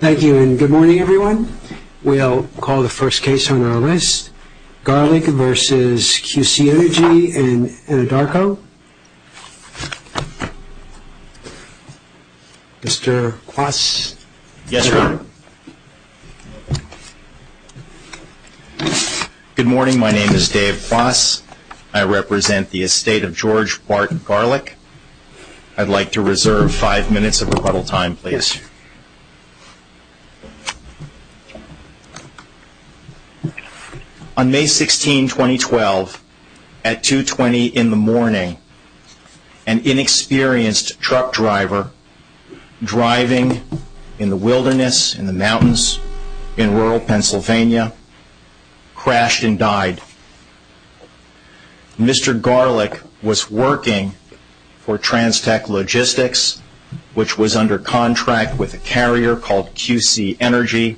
Thank you and good morning everyone. We'll call the first case on our list, Garlick v. QC Energy in Anadarko. Mr. Quass. Yes, sir. Good morning. My name is Dave Quass. I represent the estate of George Barton Garlick. I'd like to reserve 5 minutes of rebuttal time, please. On May 16, 2012, at 2.20 in the morning, an inexperienced truck driver driving in the Mr. Garlick was working for Trans Tech Logistics, which was under contract with a carrier called QC Energy,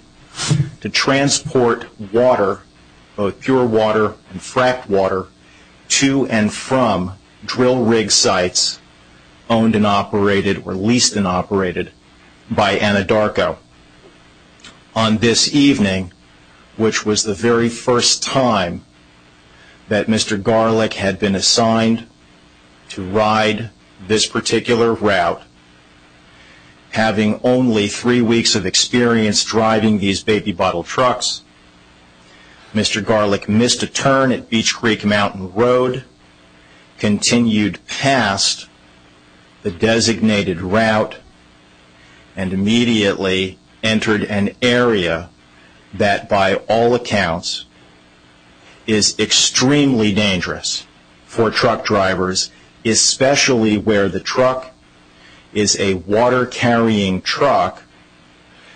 to transport water, both pure water and fracked water, to and from drill rig sites owned and operated, or leased and operated, by Anadarko. On this evening, which was the very first time that Mr. Garlick had been assigned to ride this particular route, having only three weeks of experience driving these baby bottle trucks, Mr. Garlick missed a turn at Beach Creek Mountain Road, continued past the designated route, and immediately entered an area that, by all accounts, is extremely dangerous for truck drivers, especially where the truck is a water-carrying truck,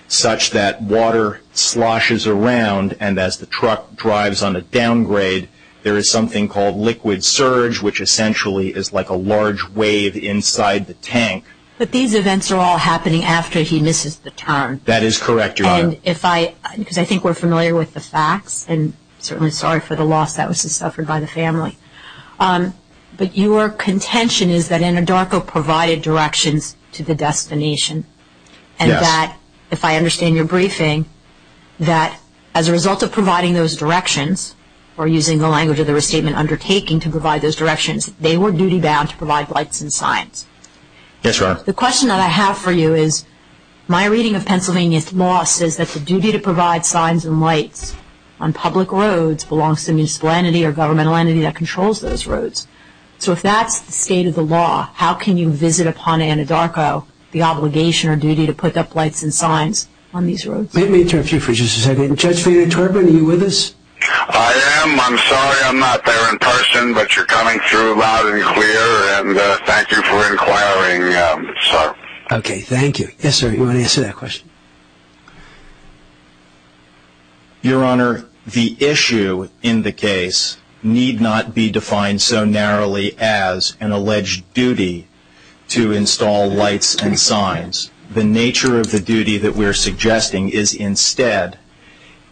such that water sloshes around, and as the truck drives on a downgrade, there is something called liquid surge, which essentially is like a large wave inside the tank. But these events are all happening after he misses the turn. That is correct, Your Honor. And if I, because I think we're familiar with the facts, and certainly sorry for the loss that was suffered by the family, but your contention is that Anadarko provided directions to the destination, and that, if I understand your briefing, that as a result of providing those directions, or using the language of the restatement, undertaking to provide those directions, they were duty-bound to provide lights and signs. Yes, Your Honor. The question that I have for you is, my reading of Pennsylvania's law says that the duty to provide signs and lights on public roads belongs to a municipal entity or governmental entity that controls those roads. So if that's the state of the law, how can you visit upon Anadarko the obligation or duty to put up lights and signs on these roads? Let me interrupt you for just a second. Judge Vena-Turbin, are you with us? I am. I'm sorry I'm not there in person, but you're coming through loud and clear, and thank you for inquiring, sir. Okay, thank you. Yes, sir, you want to answer that question? Your Honor, the issue in the case need not be defined so narrowly as an alleged duty to install lights and signs. The nature of the duty that we're suggesting is instead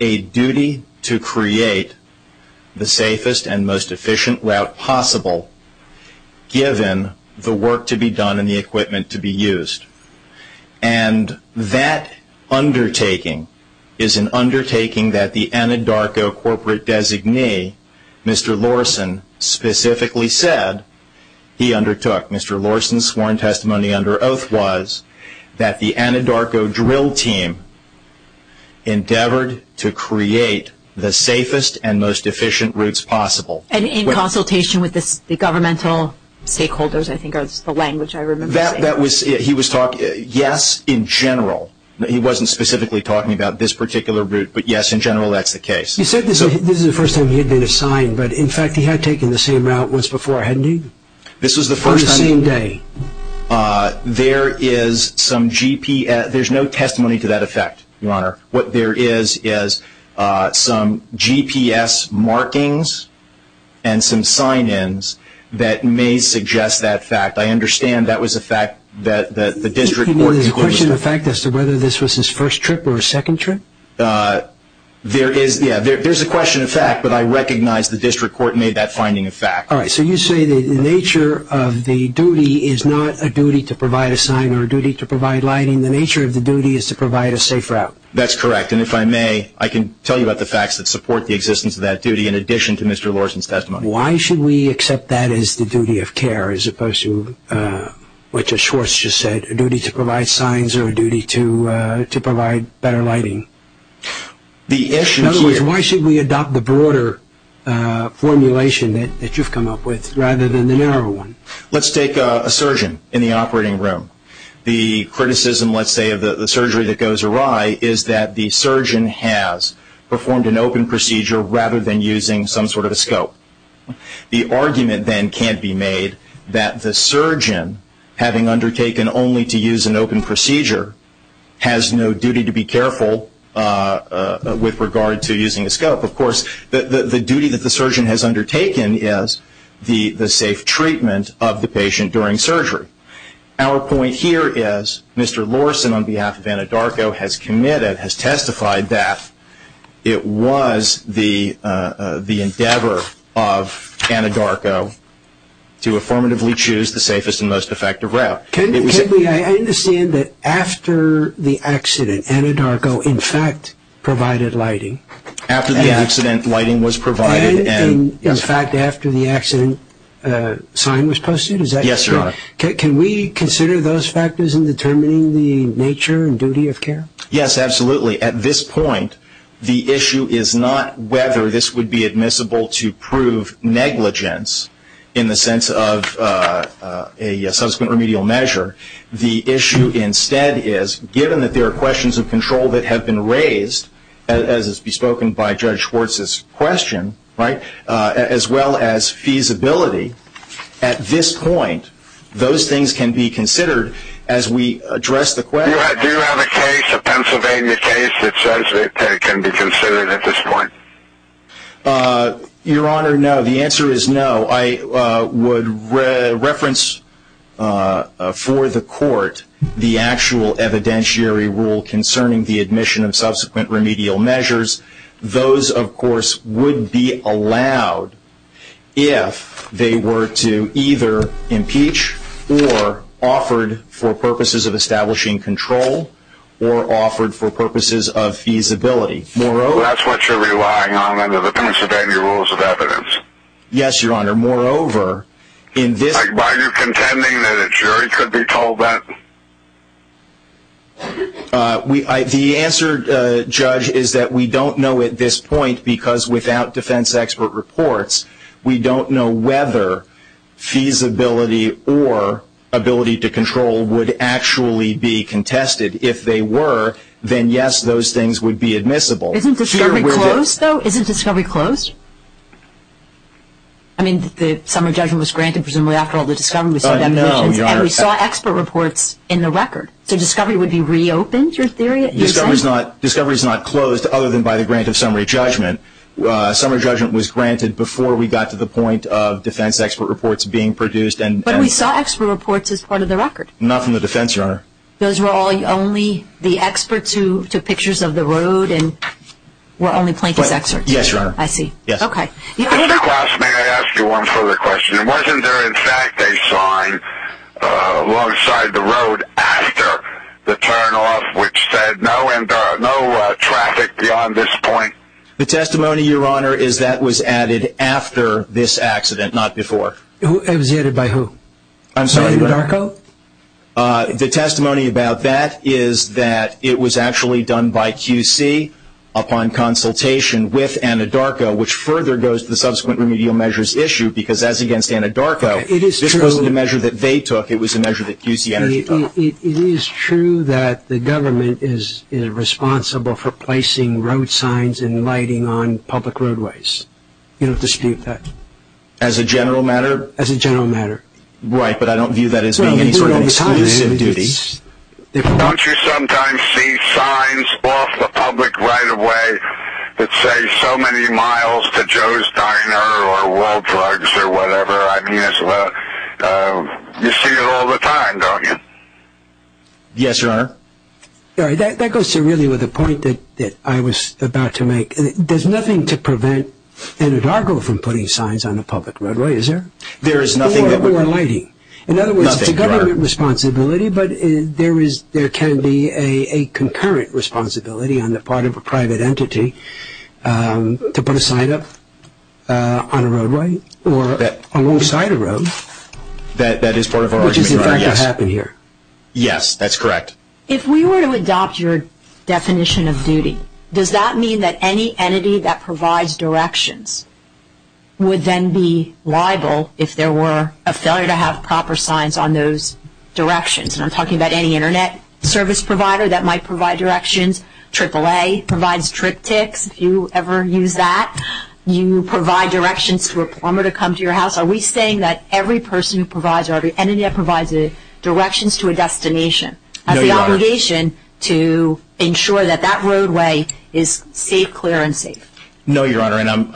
a duty to create the safest and most efficient route possible, given the work to be done and the equipment to be used. And that undertaking is an undertaking that the Anadarko corporate designee, Mr. Lorsen, specifically said he undertook. Mr. Lorsen's sworn testimony under oath was that the Anadarko drill team endeavored to create the safest and most efficient routes possible. And in consultation with the governmental stakeholders, I think, is the language I remember saying. He was talking, yes, in general. He wasn't specifically talking about this particular route, but yes, in general, that's the case. You said this is the first time he had been assigned, but in fact he had taken the same route once before, hadn't he? This was the first time. On the same day. There is some GPS, there's no testimony to that effect, Your Honor. What there is is some GPS markings and some sign-ins that may suggest that fact. I understand that was a fact that the district court concluded. There's a question of fact as to whether this was his first trip or his second trip? There is, yeah, there's a question of fact, but I recognize the district court made that finding a fact. All right, so you say that the nature of the duty is not a duty to provide a sign or a duty to provide lighting. The nature of the duty is to provide a safe route. That's correct, and if I may, I can tell you about the facts that support the existence of that duty in addition to Mr. Lawerson's testimony. Why should we accept that as the duty of care as opposed to what Judge Schwartz just said, a duty to provide signs or a duty to provide better lighting? In other words, why should we adopt the broader formulation that you've come up with rather than the narrow one? Let's take a surgeon in the operating room. The criticism, let's say, of the surgery that goes awry is that the surgeon has performed an open procedure rather than using some sort of a scope. The argument then can't be made that the surgeon, having undertaken only to use an open procedure, has no duty to be careful with regard to using a scope. Of course, the duty that the surgeon has undertaken is the safe treatment of the patient during surgery. Our point here is Mr. Lawerson, on behalf of Anadarko, has committed, has testified that it was the endeavor of Anadarko to affirmatively choose the safest and most effective route. I understand that after the accident, Anadarko, in fact, provided lighting. After the accident, lighting was provided. In fact, after the accident, a sign was posted? Yes, sir. Can we consider those factors in determining the nature and duty of care? Yes, absolutely. At this point, the issue is not whether this would be admissible to prove negligence in the sense of a subsequent remedial measure. The issue instead is, given that there are questions of control that have been raised, as has been spoken by Judge Schwartz's question, as well as feasibility, at this point, those things can be considered as we address the question. Do you have a case, a Pennsylvania case, that says it can be considered at this point? Your Honor, no. The answer is no. I would reference for the Court the actual evidentiary rule concerning the admission of subsequent remedial measures. Those, of course, would be allowed if they were to either impeach or offered for purposes of establishing control or offered for purposes of feasibility. Moreover... Well, that's what you're relying on under the Pennsylvania Rules of Evidence. Yes, Your Honor. Moreover, in this... Why are you contending that a jury could be told that? The answer, Judge, is that we don't know at this point, because without defense expert reports, we don't know whether feasibility or ability to control would actually be contested. If they were, then yes, those things would be admissible. Isn't discovery closed, though? Isn't discovery closed? I mean, the summary judgment was granted, presumably, after all the discovery was... No, Your Honor. And we saw expert reports in the record. So discovery would be reopened, your theory? Discovery is not closed other than by the grant of summary judgment. Summary judgment was granted before we got to the point of defense expert reports being produced and... But we saw expert reports as part of the record. Not from the defense, Your Honor. Those were only the experts who took pictures of the road and were only plaintiffs' experts? Yes, Your Honor. I see. Yes. Okay. Mr. Glass, may I ask you one further question? Wasn't there, in fact, a sign alongside the road after the turnoff which said no traffic beyond this point? The testimony, Your Honor, is that was added after this accident, not before. It was added by who? I'm sorry, Your Honor. Anna Darko? The testimony about that is that it was actually done by QC upon consultation with Anna Darko, which further goes to the subsequent remedial measures issue, because as against Anna Darko, this wasn't a measure that they took, it was a measure that QC Energy took. It is true that the government is responsible for placing road signs and lighting on public roadways. You don't dispute that? As a general matter? As a general matter. Right, but I don't view that as being any sort of exclusive duty. Don't you sometimes see signs off the public right-of-way that say so many miles to Joe's Diner or World Drugs or whatever? You see it all the time, don't you? Yes, Your Honor. That goes to really with the point that I was about to make. There's nothing to prevent Anna Darko from putting signs on the public roadway, is there? Or lighting. Nothing, Your Honor. It's a legitimate responsibility, but there can be a concurrent responsibility on the part of a private entity to put a sign up on a roadway or alongside a road. That is part of our argument, Your Honor, yes. Which is in fact what happened here. Yes, that's correct. If we were to adopt your definition of duty, does that mean that any entity that provides directions would then be liable if there were a failure to have proper signs on those directions? And I'm talking about any internet service provider that might provide directions. AAA provides trip ticks if you ever use that. You provide directions for a plumber to come to your house. Are we saying that every person who provides or every entity that provides directions to a destination has the obligation to ensure that that roadway is safe, clear, and safe? No, Your Honor, and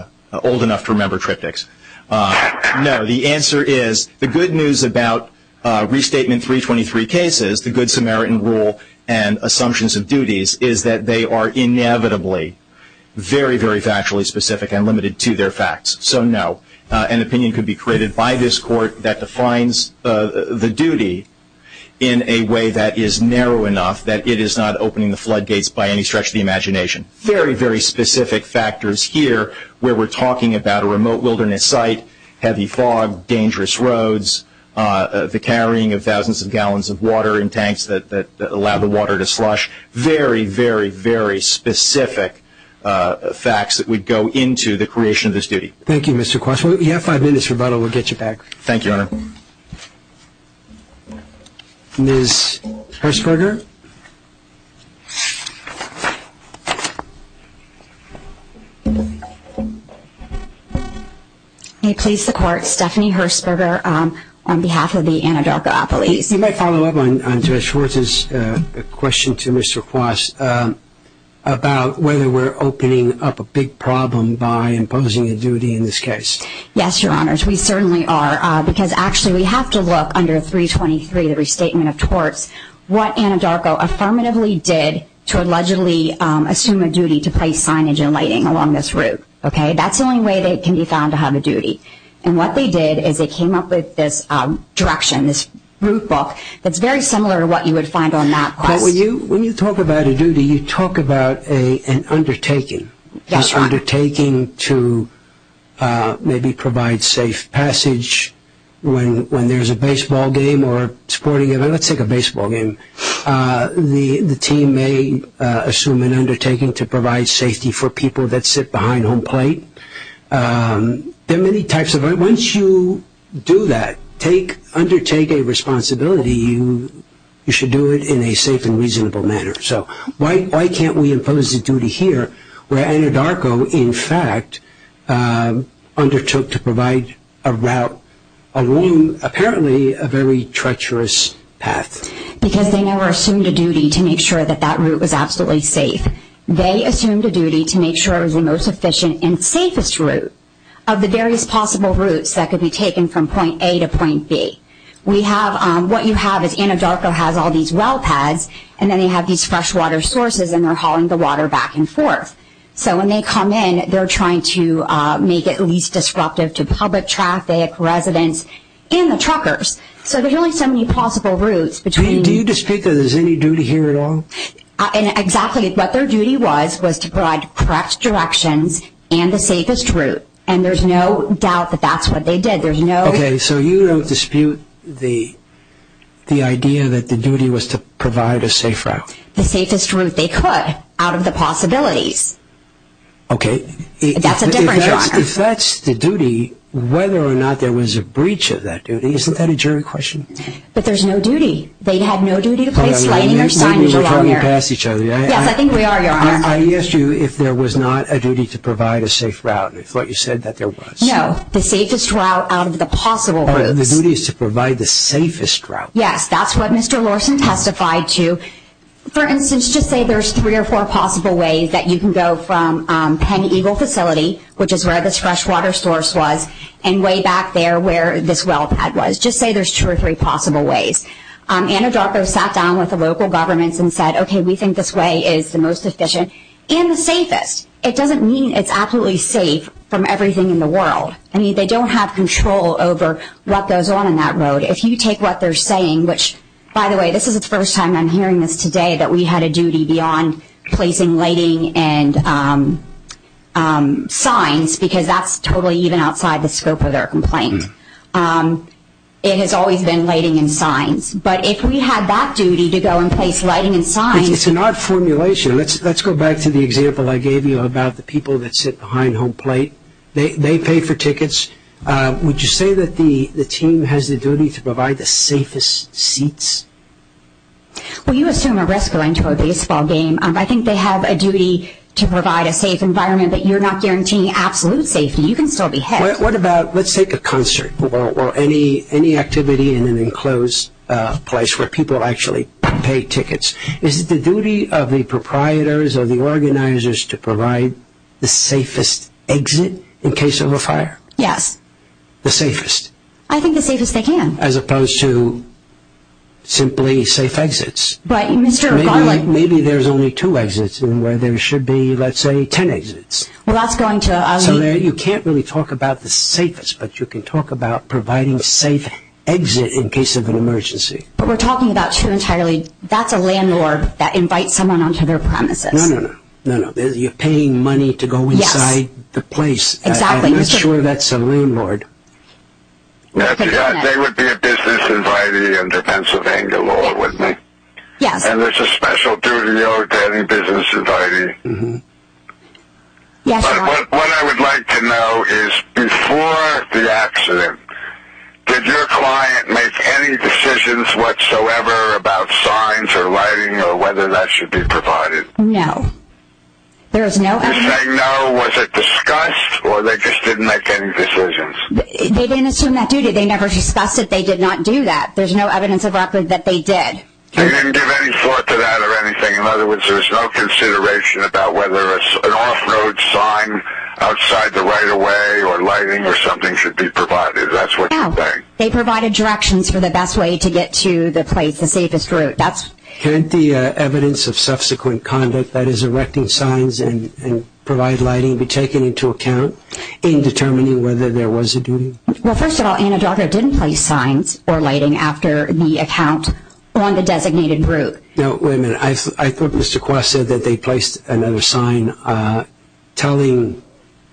I'm old enough to remember trip ticks. No, the answer is, the good news about Restatement 323 cases, the Good Samaritan Rule, and assumptions of duties, is that they are inevitably very, very factually specific and limited to their facts. So, no. An opinion could be created by this Court that defines the duty in a way that is narrow enough that it is not opening the floodgates by any stretch of the imagination. Very, very specific factors here where we're talking about a remote wilderness site, heavy fog, dangerous roads, the carrying of thousands of gallons of water in tanks that allow the water to slush. Very, very, very specific facts that would go into the creation of this duty. Thank you, Mr. Quash. We have five minutes for rebuttal. We'll get you back. Thank you, Your Honor. Ms. Hershberger? May it please the Court, Stephanie Hershberger on behalf of the Anadarko Appellees. You may follow up on Judge Schwartz's question to Mr. Quash about whether we're opening up a big problem by imposing a duty in this case. Yes, Your Honors. We certainly are, because actually we have to look under 323, the Restatement of Torts, what Anadarko affirmatively did to allegedly assume a duty to place signage and lighting along this route. That's the only way they can be found to have a duty. And what they did is they came up with this direction, this route book, that's very similar to what you would find on that quest. When you talk about a duty, you talk about an undertaking. Yes, Your Honor. This undertaking to maybe provide safe passage when there's a baseball game or sporting event, let's take a baseball game, the team may assume an undertaking to provide safety for people that sit behind home plate. There are many types of, once you do that, undertake a responsibility, you should do it in a safe and reasonable manner. So why can't we impose a duty here where Anadarko, in fact, undertook to provide a route along, apparently, a very treacherous path? Because they never assumed a duty to make sure that that route was absolutely safe. They assumed a duty to make sure it was the most efficient and safest route of the various possible routes that could be taken from point A to point B. We have, what you have is Anadarko has all these well pads, and then they have these freshwater sources, and they're hauling the water back and forth. So when they come in, they're trying to make it least disruptive to public traffic, residents, and the truckers. So there are really so many possible routes between... Do you dispute that there's any duty here at all? Exactly. What their duty was, was to provide correct directions and the safest route. And there's no doubt that that's what they did. There's no... Okay, so you don't dispute the idea that the duty was to provide a safe route. The safest route they could out of the possibilities. Okay. That's a different genre. If that's the duty, whether or not there was a breach of that duty, isn't that a jury question? But there's no duty. They had no duty to place lighting or signage. Maybe we're talking past each other. Yes, I think we are, Your Honor. I asked you if there was not a duty to provide a safe route. I thought you said that there was. No, the safest route out of the possible routes. But the duty is to provide the safest route. Yes, that's what Mr. Lawson testified to. For instance, just say there's three or four possible ways that you can go from Penn Eagle facility, which is where this freshwater source was, and way back there where this well pad was. Just say there's two or three possible ways. Anna Darko sat down with the local governments and said, okay, we think this way is the most efficient and the safest. It doesn't mean it's absolutely safe from everything in the world. I mean, they don't have control over what goes on in that road. If you take what they're saying, which, by the way, this is the first time I'm hearing this today, that we had a duty beyond placing lighting and signs, because that's totally even outside the scope of their complaint. It has always been lighting and signs. But if we had that duty to go and place lighting and signs. It's an odd formulation. Let's go back to the example I gave you about the people that sit behind home plate. They pay for tickets. Would you say that the team has the duty to provide the safest seats? Well, you assume a rescuer into a baseball game. I think they have a duty to provide a safe environment, but you're not guaranteeing absolute safety. You can still be hit. What about, let's take a concert or any activity in an enclosed place where people actually pay tickets. Is it the duty of the proprietors or the organizers to provide the safest exit in case of a fire? Yes. The safest? I think the safest they can. As opposed to simply safe exits? Right. Maybe there's only two exits where there should be, let's say, ten exits. Well, that's going to... So, Mary, you can't really talk about the safest, but you can talk about providing a safe exit in case of an emergency. But we're talking about two entirely. That's a landlord that invites someone onto their premises. No, no, no. You're paying money to go inside the place. Exactly. I'm not sure that's a landlord. They would be a business invitee in the Pennsylvania law, wouldn't they? Yes. And there's a special duty or getting business invitee? Yes. What I would like to know is before the accident, did your client make any decisions whatsoever about signs or lighting or whether that should be provided? No. There is no... Did they say no? Was it discussed or they just didn't make any decisions? They didn't assume that duty. They never discussed it. They did not do that. There's no evidence of record that they did. They didn't give any thought to that or anything. In other words, there's no consideration about whether an off-road sign outside the right-of-way or lighting or something should be provided. That's what you think? No. They provided directions for the best way to get to the place, the safest route. That's... Can't the evidence of subsequent conduct, that is, erecting signs and provide lighting be taken into account in determining whether there was a duty? first of all, Anadarko didn't place signs or lighting after the account on the designated route. Now, wait a minute. I thought Mr. Kwas said that they placed another sign telling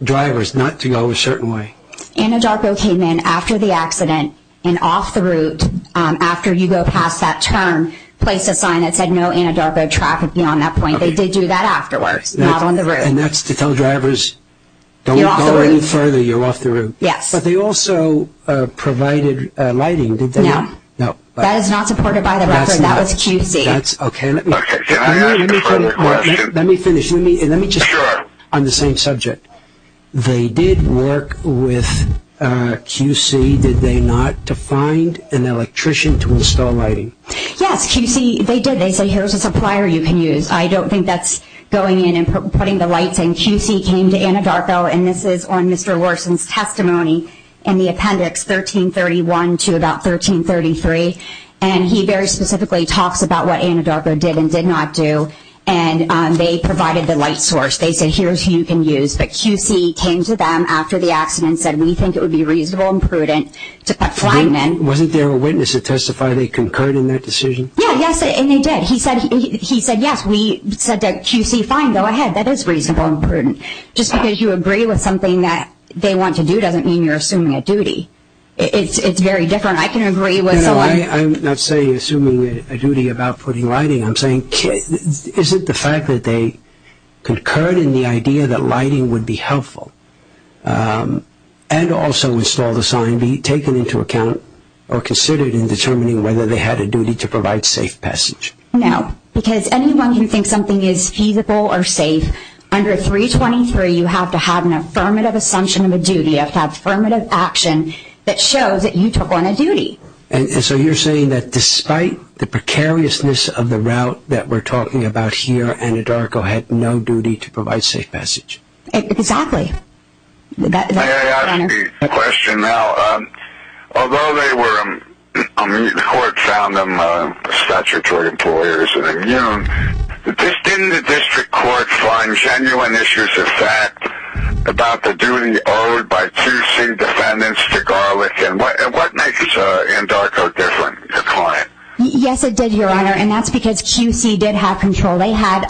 drivers not to go a certain way. Anadarko came in after the accident and off the route after you go past that turn, placed a sign that said no Anadarko traffic beyond that point. They did do that afterwards, not on the route. And that's to tell drivers, don't go any further, you're off the route. Yes. But they also provided lighting, did they not? No. That is not supported by the record. That was QC. That's okay. Let me finish. Let me just... Sure. On the same subject. They did work with QC, did they not, to find an electrician to install lighting? Yes, QC. They did. They said, here's a supplier you can use. I don't think that's going in and putting the lights in. QC came to Anadarko, and this is on Mr. Larson's testimony in the appendix, 1331 to about 1333. And he very specifically talks about what Anadarko did and did not do. And they provided the light source. They said, here's who you can use. But QC came to them after the accident and said we think it would be reasonable and prudent to put lighting in. Wasn't there a witness that testified they concurred in that decision? Yeah, yes. And they did. He said, yes, we said to QC, fine, go ahead. That is reasonable and prudent. Just because you agree with something that they want to do doesn't mean you're assuming a duty. It's very different. I can agree with someone. No, no. I'm not saying assuming a duty about putting lighting. I'm saying, is it the fact that they concurred in the idea that lighting would be helpful and also install the sign be taken into account or considered in determining whether they had a duty to provide safe passage? No. Because anyone who thinks something is feasible or safe, under 323, you have to have an affirmative assumption of a duty. You have to have affirmative action that shows that you took on a duty. And so you're saying that despite the precariousness of the route that we're talking about here, Anadarko had no duty to provide safe passage? Exactly. May I ask a question now? Although they were, the court found them statutory employers, didn't the district court find genuine issues of fact about the duty owed by QC defendants to Garlick and what makes Anadarko different? Yes, it did, Your Honor. And that's because QC did have control. They had,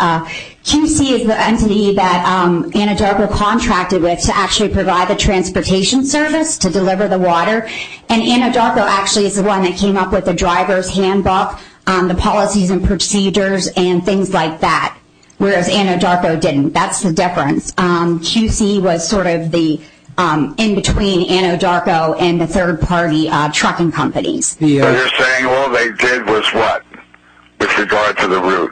QC is the entity that Anadarko contracted with to actually provide the transportation service to deliver the water. And Anadarko actually is the one that came up with the driver's handbook, the policies and procedures and things like that, whereas Anadarko didn't. That's the difference. QC was sort of the in-between Anadarko and the third-party trucking companies. So you're saying all they did was what, with regard to the route?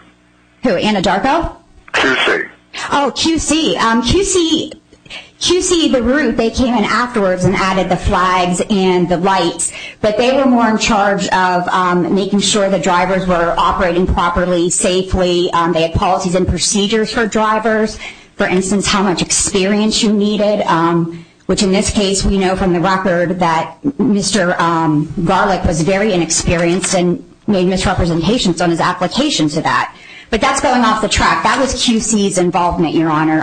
QC. Oh, QC. QC, the route, they came in afterwards and added the flags and the lights. But they were more in charge of making sure the drivers were operating properly, safely. They had policies and procedures for drivers. For instance, how much experience you needed, which in this case, we know from the record that Mr. Garlick was very inexperienced and made misrepresentations on his application to that. But that's going off the track. That was QC's involvement, Your Honor,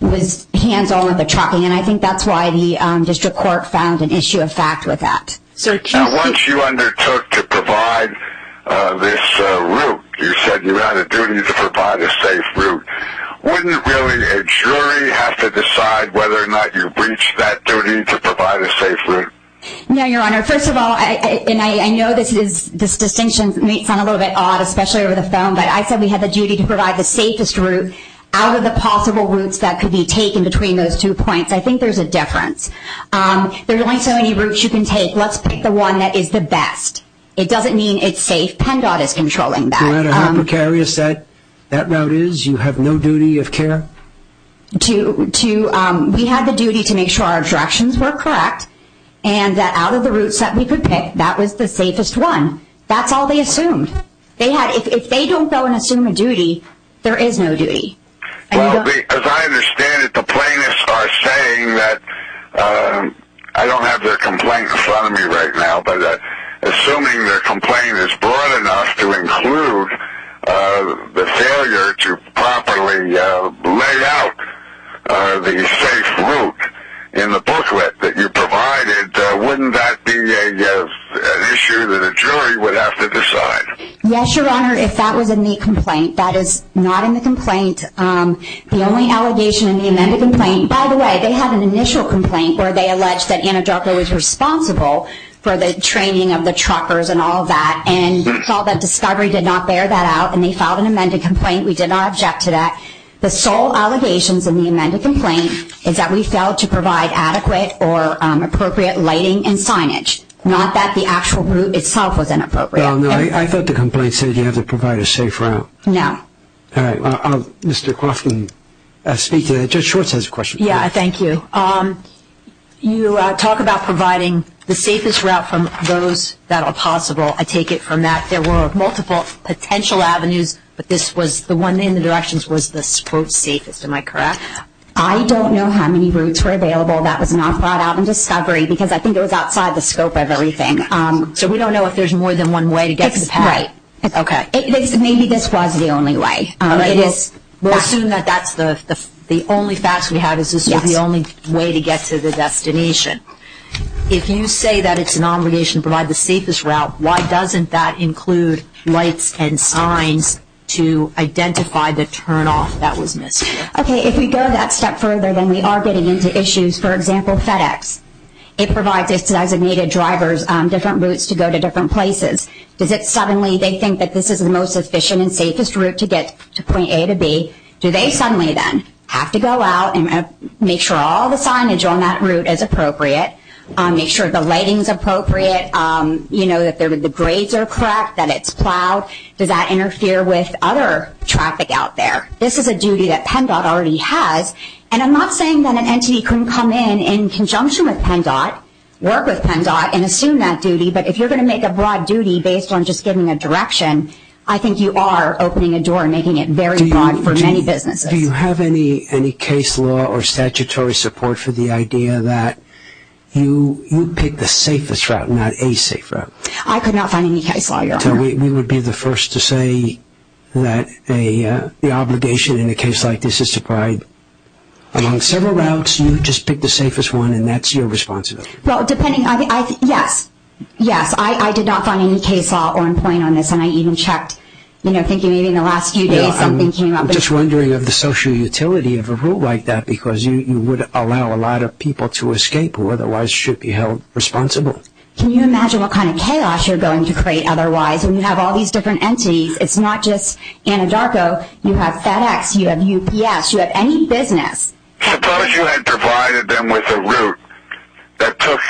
was hands-on with the trucking. And I think that's why the district court found an issue of fact with that. Now, once you undertook to provide this route, you said you had a duty to provide a safe route. Wouldn't really a jury have to decide whether or not you breached that duty to provide a safe route? No, Your Honor. First of all, and I know this distinction may sound a little bit odd, especially over the phone, but I said we had the duty to provide the safest route out of the possible routes that could be taken between those two points. I think there's a difference. There's only so many routes you can take. Let's pick the one that is the best. It doesn't mean it's safe. PennDOT is controlling that. Your Honor, how precarious that route is? You have no duty of care? We had the duty to make sure our directions were correct and that out of the routes that we could pick, that was the safest one. That's all they assumed. If they don't go and assume a duty, there is no duty. Well, as I understand it, the plaintiffs are saying that, I don't have their complaint in front of me right now, but assuming their complaint is broad enough to include the failure to properly lay out the safe route in the booklet that you provided, wouldn't that be an issue that a jury would have to decide? Yes, Your Honor. If that was in the complaint, that is not in the complaint. The only allegation in the amended complaint, by the way, they had an initial complaint where they alleged that Anadarko was responsible for the training of the truckers and all of that. We felt that Discovery did not bear that out and they filed an amended complaint. We did not object to that. The sole allegations in the amended complaint is that we failed to provide adequate or appropriate lighting and signage, not that the actual route itself was inappropriate. I thought the complaint said you have to provide a safe route. No. All right. Mr. Croft can speak to that. Judge Schwartz has a question. Yeah, thank you. You talk about providing the safest route from those that are possible. I take it from that. There were multiple potential avenues, but this was the one in the directions was the, quote, safest. Am I correct? I don't know how many routes were available that was not brought out in Discovery because I think it was outside the scope of everything. So we don't know if there's more than one way to get to the pad. Right. Okay. Maybe this was the only way. All right. We'll assume that that's the only facts we have is this was the only way to get to the destination. If you say that it's an obligation to provide the safest route, why doesn't that include lights and signs to identify the turnoff that was missed? Okay. If we go that step further, then we are getting into issues. For example, FedEx. It provides designated drivers different routes to go to different places. Does it suddenly, they think that this is the most efficient and safest route to get to point A to B. Do they suddenly then have to go out and make sure all the signage on that route is appropriate, make sure the lighting's appropriate, you know, that the grades are correct, that it's plowed. Does that interfere with other traffic out there? This is a duty that PennDOT already has. And I'm not saying that an entity couldn't come in in conjunction with PennDOT, work with PennDOT, and assume that duty. But if you're going to make a broad duty based on just giving a direction, I think you are opening a door and making it very broad for many businesses. Do you have any case law or statutory support for the idea that you pick the safest route and not a safe route? I could not find any case law. We would be the first to say that the obligation in a case like this is to provide among several routes, you just pick the safest one and that's your responsibility. Well, depending... Yes. Yes, I did not find any case law or point on this and I even checked, you know, thinking maybe in the last few days something came up. I'm just wondering of the social utility of a route like that because you would allow a lot of people to escape who otherwise should be held responsible. Can you imagine what kind of chaos you're going to create otherwise when you have all these different entities? It's not just Anadarko. You have FedEx, you have UPS, you have any business. Suppose you had provided them with a route that took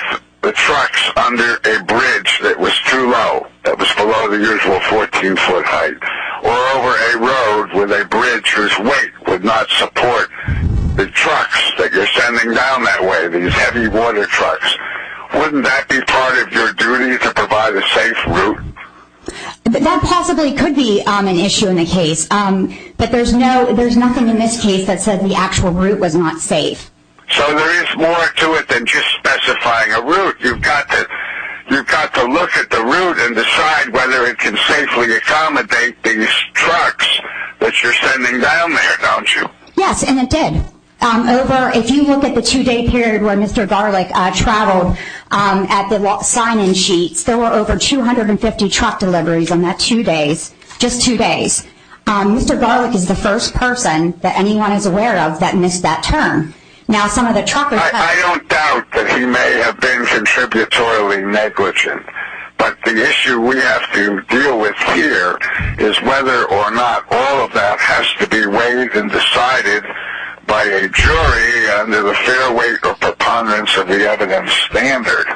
the trucks under a bridge that was too low, that was below the usual 14 foot height or over a road with a bridge whose weight would not support the trucks that you're sending down that way, these heavy water trucks. Wouldn't that be part of your duty to provide a safe route? That possibly could be an issue in the case but there's nothing in this case that says the actual route was not safe. So there is more to it than just specifying a route. You've got to look at the route and decide whether it can safely accommodate these trucks that you're sending down there, don't you? Yes, and it did. If you look at the two day period where Mr. Garlick traveled at the sign-in sheets, there were over 250 truck deliveries on that two days, just two days. Mr. Garlick is the first person that anyone is aware of that missed that turn. I don't doubt that he may have been contributory negligent but the issue we have to deal with here is whether or not all of that has to be weighed and decided by a jury under the fair weight or preponderance of the evidence standard.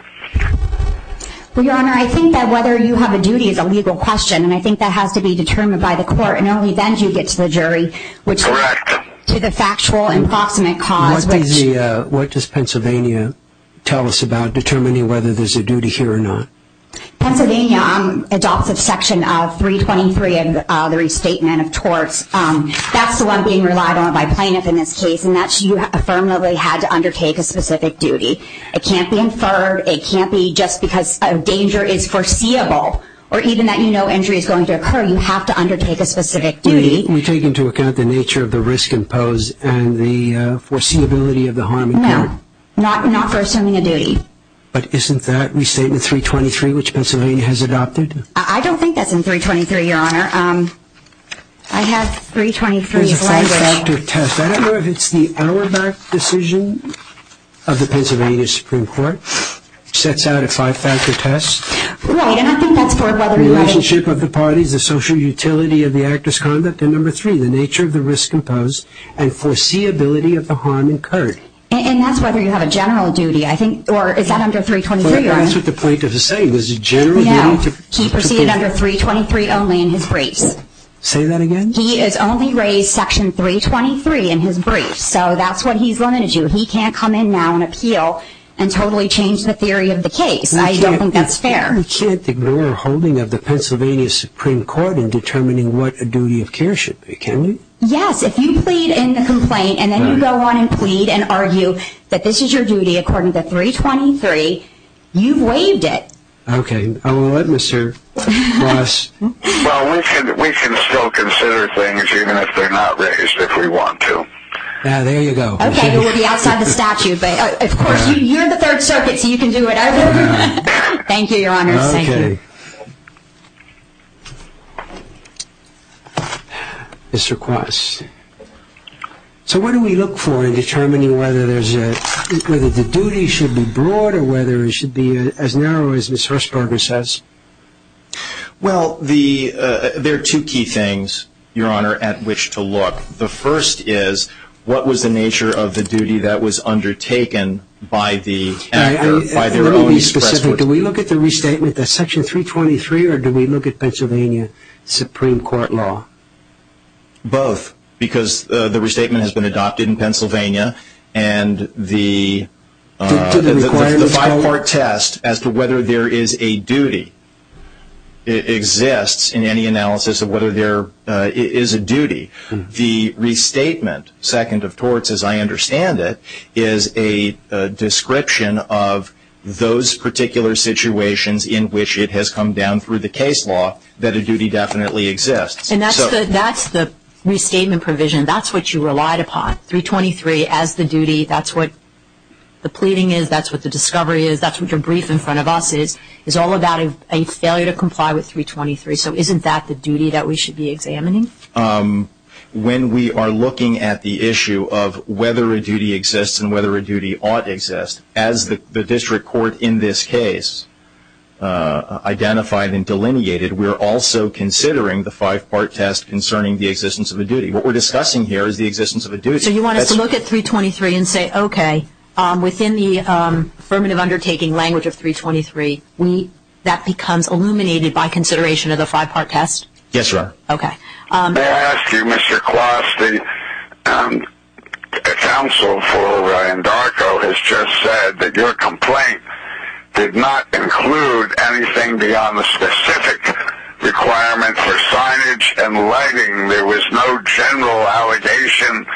Your Honor, I think that whether you have a duty is a legal question and I think that has to be determined by the court and only then do you get to the jury Correct. to the factual and proximate cause What does Pennsylvania tell us about determining whether there's a duty here or not? Pennsylvania adopts a section of 323 and the restatement of torts. That's the one being relied on by plaintiff in this case and that's you affirmatively had to undertake a specific duty. It can't be inferred, it can't be just because a danger is foreseeable or even that you know injury is going to occur you have to undertake a specific duty. We take into account the nature of the risk imposed and the foreseeability of the harm incurred. No, not for assuming a duty. But isn't that restatement 323 which Pennsylvania has adopted? I don't think that's in 323, Your Honor. I have 323 It's a five-factor test. I don't know if it's the Auerbach decision of the Pennsylvania Supreme Court which sets out a five-factor test. Right, and I think that's for whether the relationship of the parties the social utility of the act of conduct and number three, the nature of the risk imposed and foreseeability of the harm incurred. And that's whether you have a general duty I think, or is that under 323? That's what the plaintiff is saying. No, he proceeded under 323 only in his briefs. Say that again? He has only raised section 323 in his briefs so that's what he's limited to. He can't come in now and appeal and totally change the theory of the case. I don't think that's fair. But we can't ignore the holding of the Pennsylvania Supreme Court in determining what a duty of care should be, can we? Yes, if you plead in the complaint and then you go on and plead and argue that this is your duty according to 323 you've waived it. Okay, I will let Mr. Ross... Well, we can still consider things even if they're not raised if we want to. Now, there you go. Okay, we'll be outside the statute but of course, you're the Third Circuit so you can do whatever you want. Thank you, Your Honor. Mr. Quast. So what do we look for in determining whether the duty should be broad or whether it should be as narrow as Ms. Hershberger says? Well, there are two key things Your Honor, at which to look. The first is what was the nature of the duty that was undertaken by the by their own express court. Do we look at the restatement that's section 323 or do we look at Pennsylvania Supreme Court law? Both. Because the restatement has been adopted in Pennsylvania and the five-part test as to whether there is a duty exists in any analysis of whether there is a duty. The restatement second of torts as I understand it is a description of those particular situations in which it has come down through the case law that a duty definitely exists. And that's the restatement provision that's what you relied upon. 323 as the duty, that's what the pleading is, that's what the discovery is that's what your brief in front of us is is all about a failure to comply with 323. So isn't that the duty that we should be examining? When we are looking at the issue of whether a duty exists and whether a duty ought to exist, as the district court in this case identified and delineated we're also considering the five-part test concerning the existence of a duty. What we're discussing here is the existence of a duty. So you want us to look at 323 and say okay, within the affirmative undertaking language of 323 that becomes illuminated by consideration of the five-part test? Yes, Your Honor. May I ask you, Mr. Kloss, the counsel for Andarco has just said that your complaint did not include anything beyond the specific requirement for signage and lighting. There was no general allegation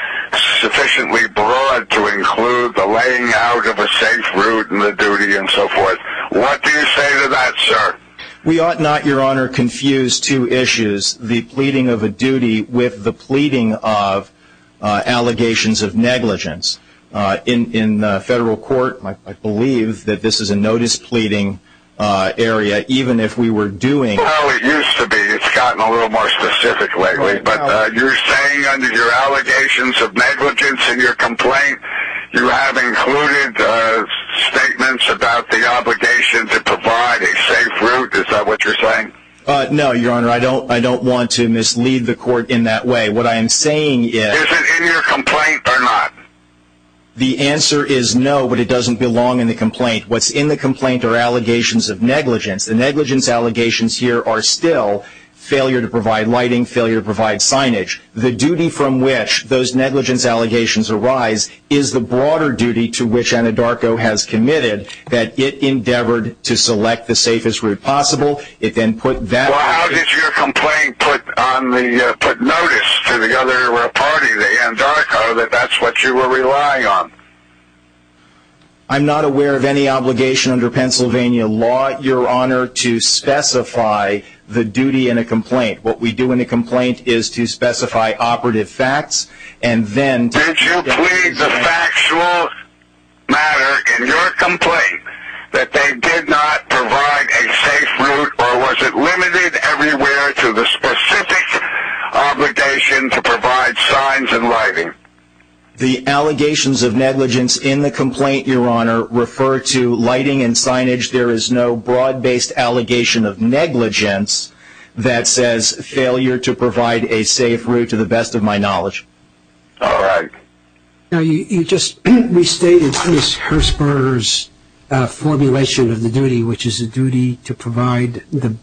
sufficiently broad to include the laying out of a safe route and the duty and so forth. What do you say to that, sir? We ought not, Your Honor, confuse two issues, the pleading of a duty with the pleading of allegations of negligence. In the federal court, I believe that this is a notice pleading area, even if we were doing Well, it used to be. It's gotten a little more specific lately, but you're saying under your allegations of negligence in your complaint you have included statements about the obligation to provide a safe route. Is that what you're saying? No, Your Honor. I don't want to mislead the court in that way. What I am saying is Is it in your complaint or not? The answer is no, but it doesn't belong in the complaint. What's in the complaint are allegations of negligence. The negligence allegations here are still failure to provide lighting, failure to provide signage. The duty from which those negligence allegations arise is the broader duty to which Andarco has committed that it endeavored to select the safest route possible. It then put that... Well, how did your complaint put notice to the other party, the Andarco, that that's what you were relying on? I'm not aware of any obligation under Pennsylvania law, Your Honor, to specify the duty in a complaint. What we do in a complaint is to specify operative facts and then... Did you plead the factual matter in your complaint that they did not provide a safe route or was it limited everywhere to the specific obligation to provide signs and lighting? The allegations of negligence in the complaint, Your Honor, refer to lighting and signage. There is no broad-based allegation of negligence that says failure to provide a safe route, to the best of my knowledge. All right. Now, you just restated Chris Hersper's formulation of the duty, which is a duty to provide the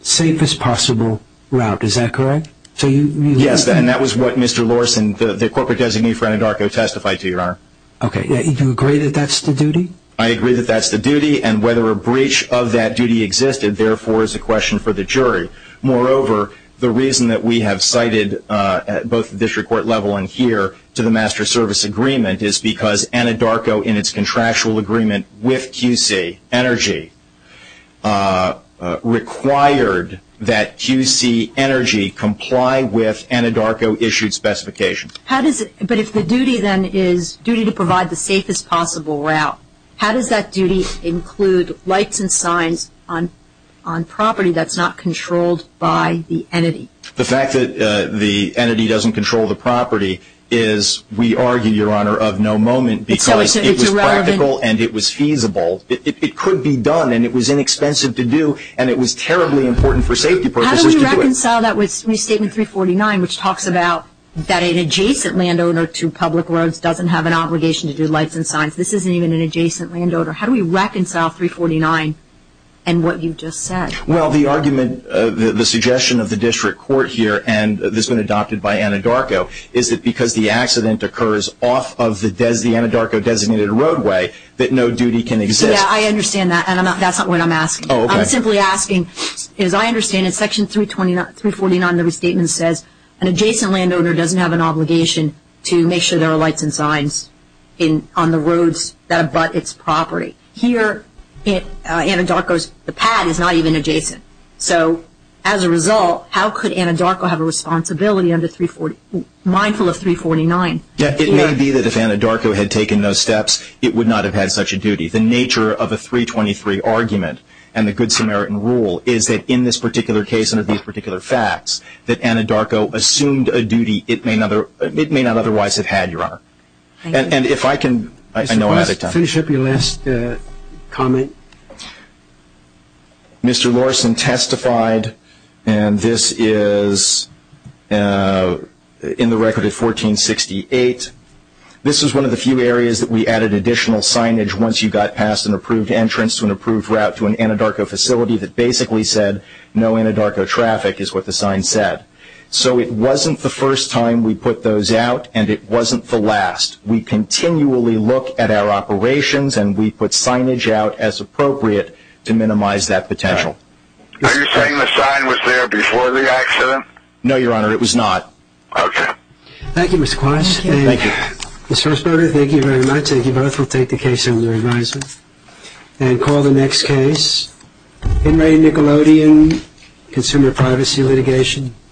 safest possible route. Is that correct? Yes, and that was what Mr. Lorson, the corporate designee for Andarco, testified to, Your Honor. Okay. Do you agree that that's the duty? I agree that that's the duty and whether a breach of that duty existed therefore is a question for the jury. Moreover, the reason that we have cited both at the district court level and here to the Master Service Agreement is because Andarco, in its contractual agreement with QC Energy, required that QC Energy comply with Andarco-issued specifications. But if the duty then is duty to provide the safest possible route, how does that duty on property that's not controlled by the entity? The fact that the entity doesn't control the property is, we argue, Your Honor, of no moment because it was practical and it was feasible. It could be done and it was inexpensive to do and it was terribly important for safety purposes to do it. How do we reconcile that with Statement 349, which talks about that an adjacent landowner to public roads doesn't have an obligation to do lights and signs? This isn't even an adjacent landowner. How do we reconcile 349 and what you just said? Well, the argument, the suggestion of the district court here and that's been adopted by Andarco, is that because the accident occurs off of the Andarco-designated roadway that no duty can exist. Yeah, I understand that and that's not what I'm asking. I'm simply asking, as I understand it, Section 349 of the Statement says an adjacent landowner doesn't have an obligation to make sure there are lights and signs on the roads that abut its property. Here, Andarco's pad is not even adjacent. So, as a result, how could Andarco have a responsibility mindful of 349? It may be that if Andarco had taken those steps, it would not have had such a duty. The nature of a 323 argument and the Good Samaritan rule is that in this particular case and in these particular facts, that Andarco assumed a duty it may not otherwise have had, Your Honor. And if I can... Mr. Larson, finish up your last comment. Mr. Larson testified and this is in the record of 1468. This is one of the few areas that we added additional signage once you got past an approved entrance to an approved route to an Andarco facility that basically said no Andarco traffic is what the sign said. So it wasn't the first time we put those out and it wasn't the last. We continually look at our operations and we put signage out as appropriate to minimize that potential. Are you saying the sign was there before the accident? No, Your Honor. It was not. Okay. Thank you, Mr. Quash. Thank you very much. We'll take the case under advisement and call the next case. Henry Nickelodeon, Consumer Privacy Litigation.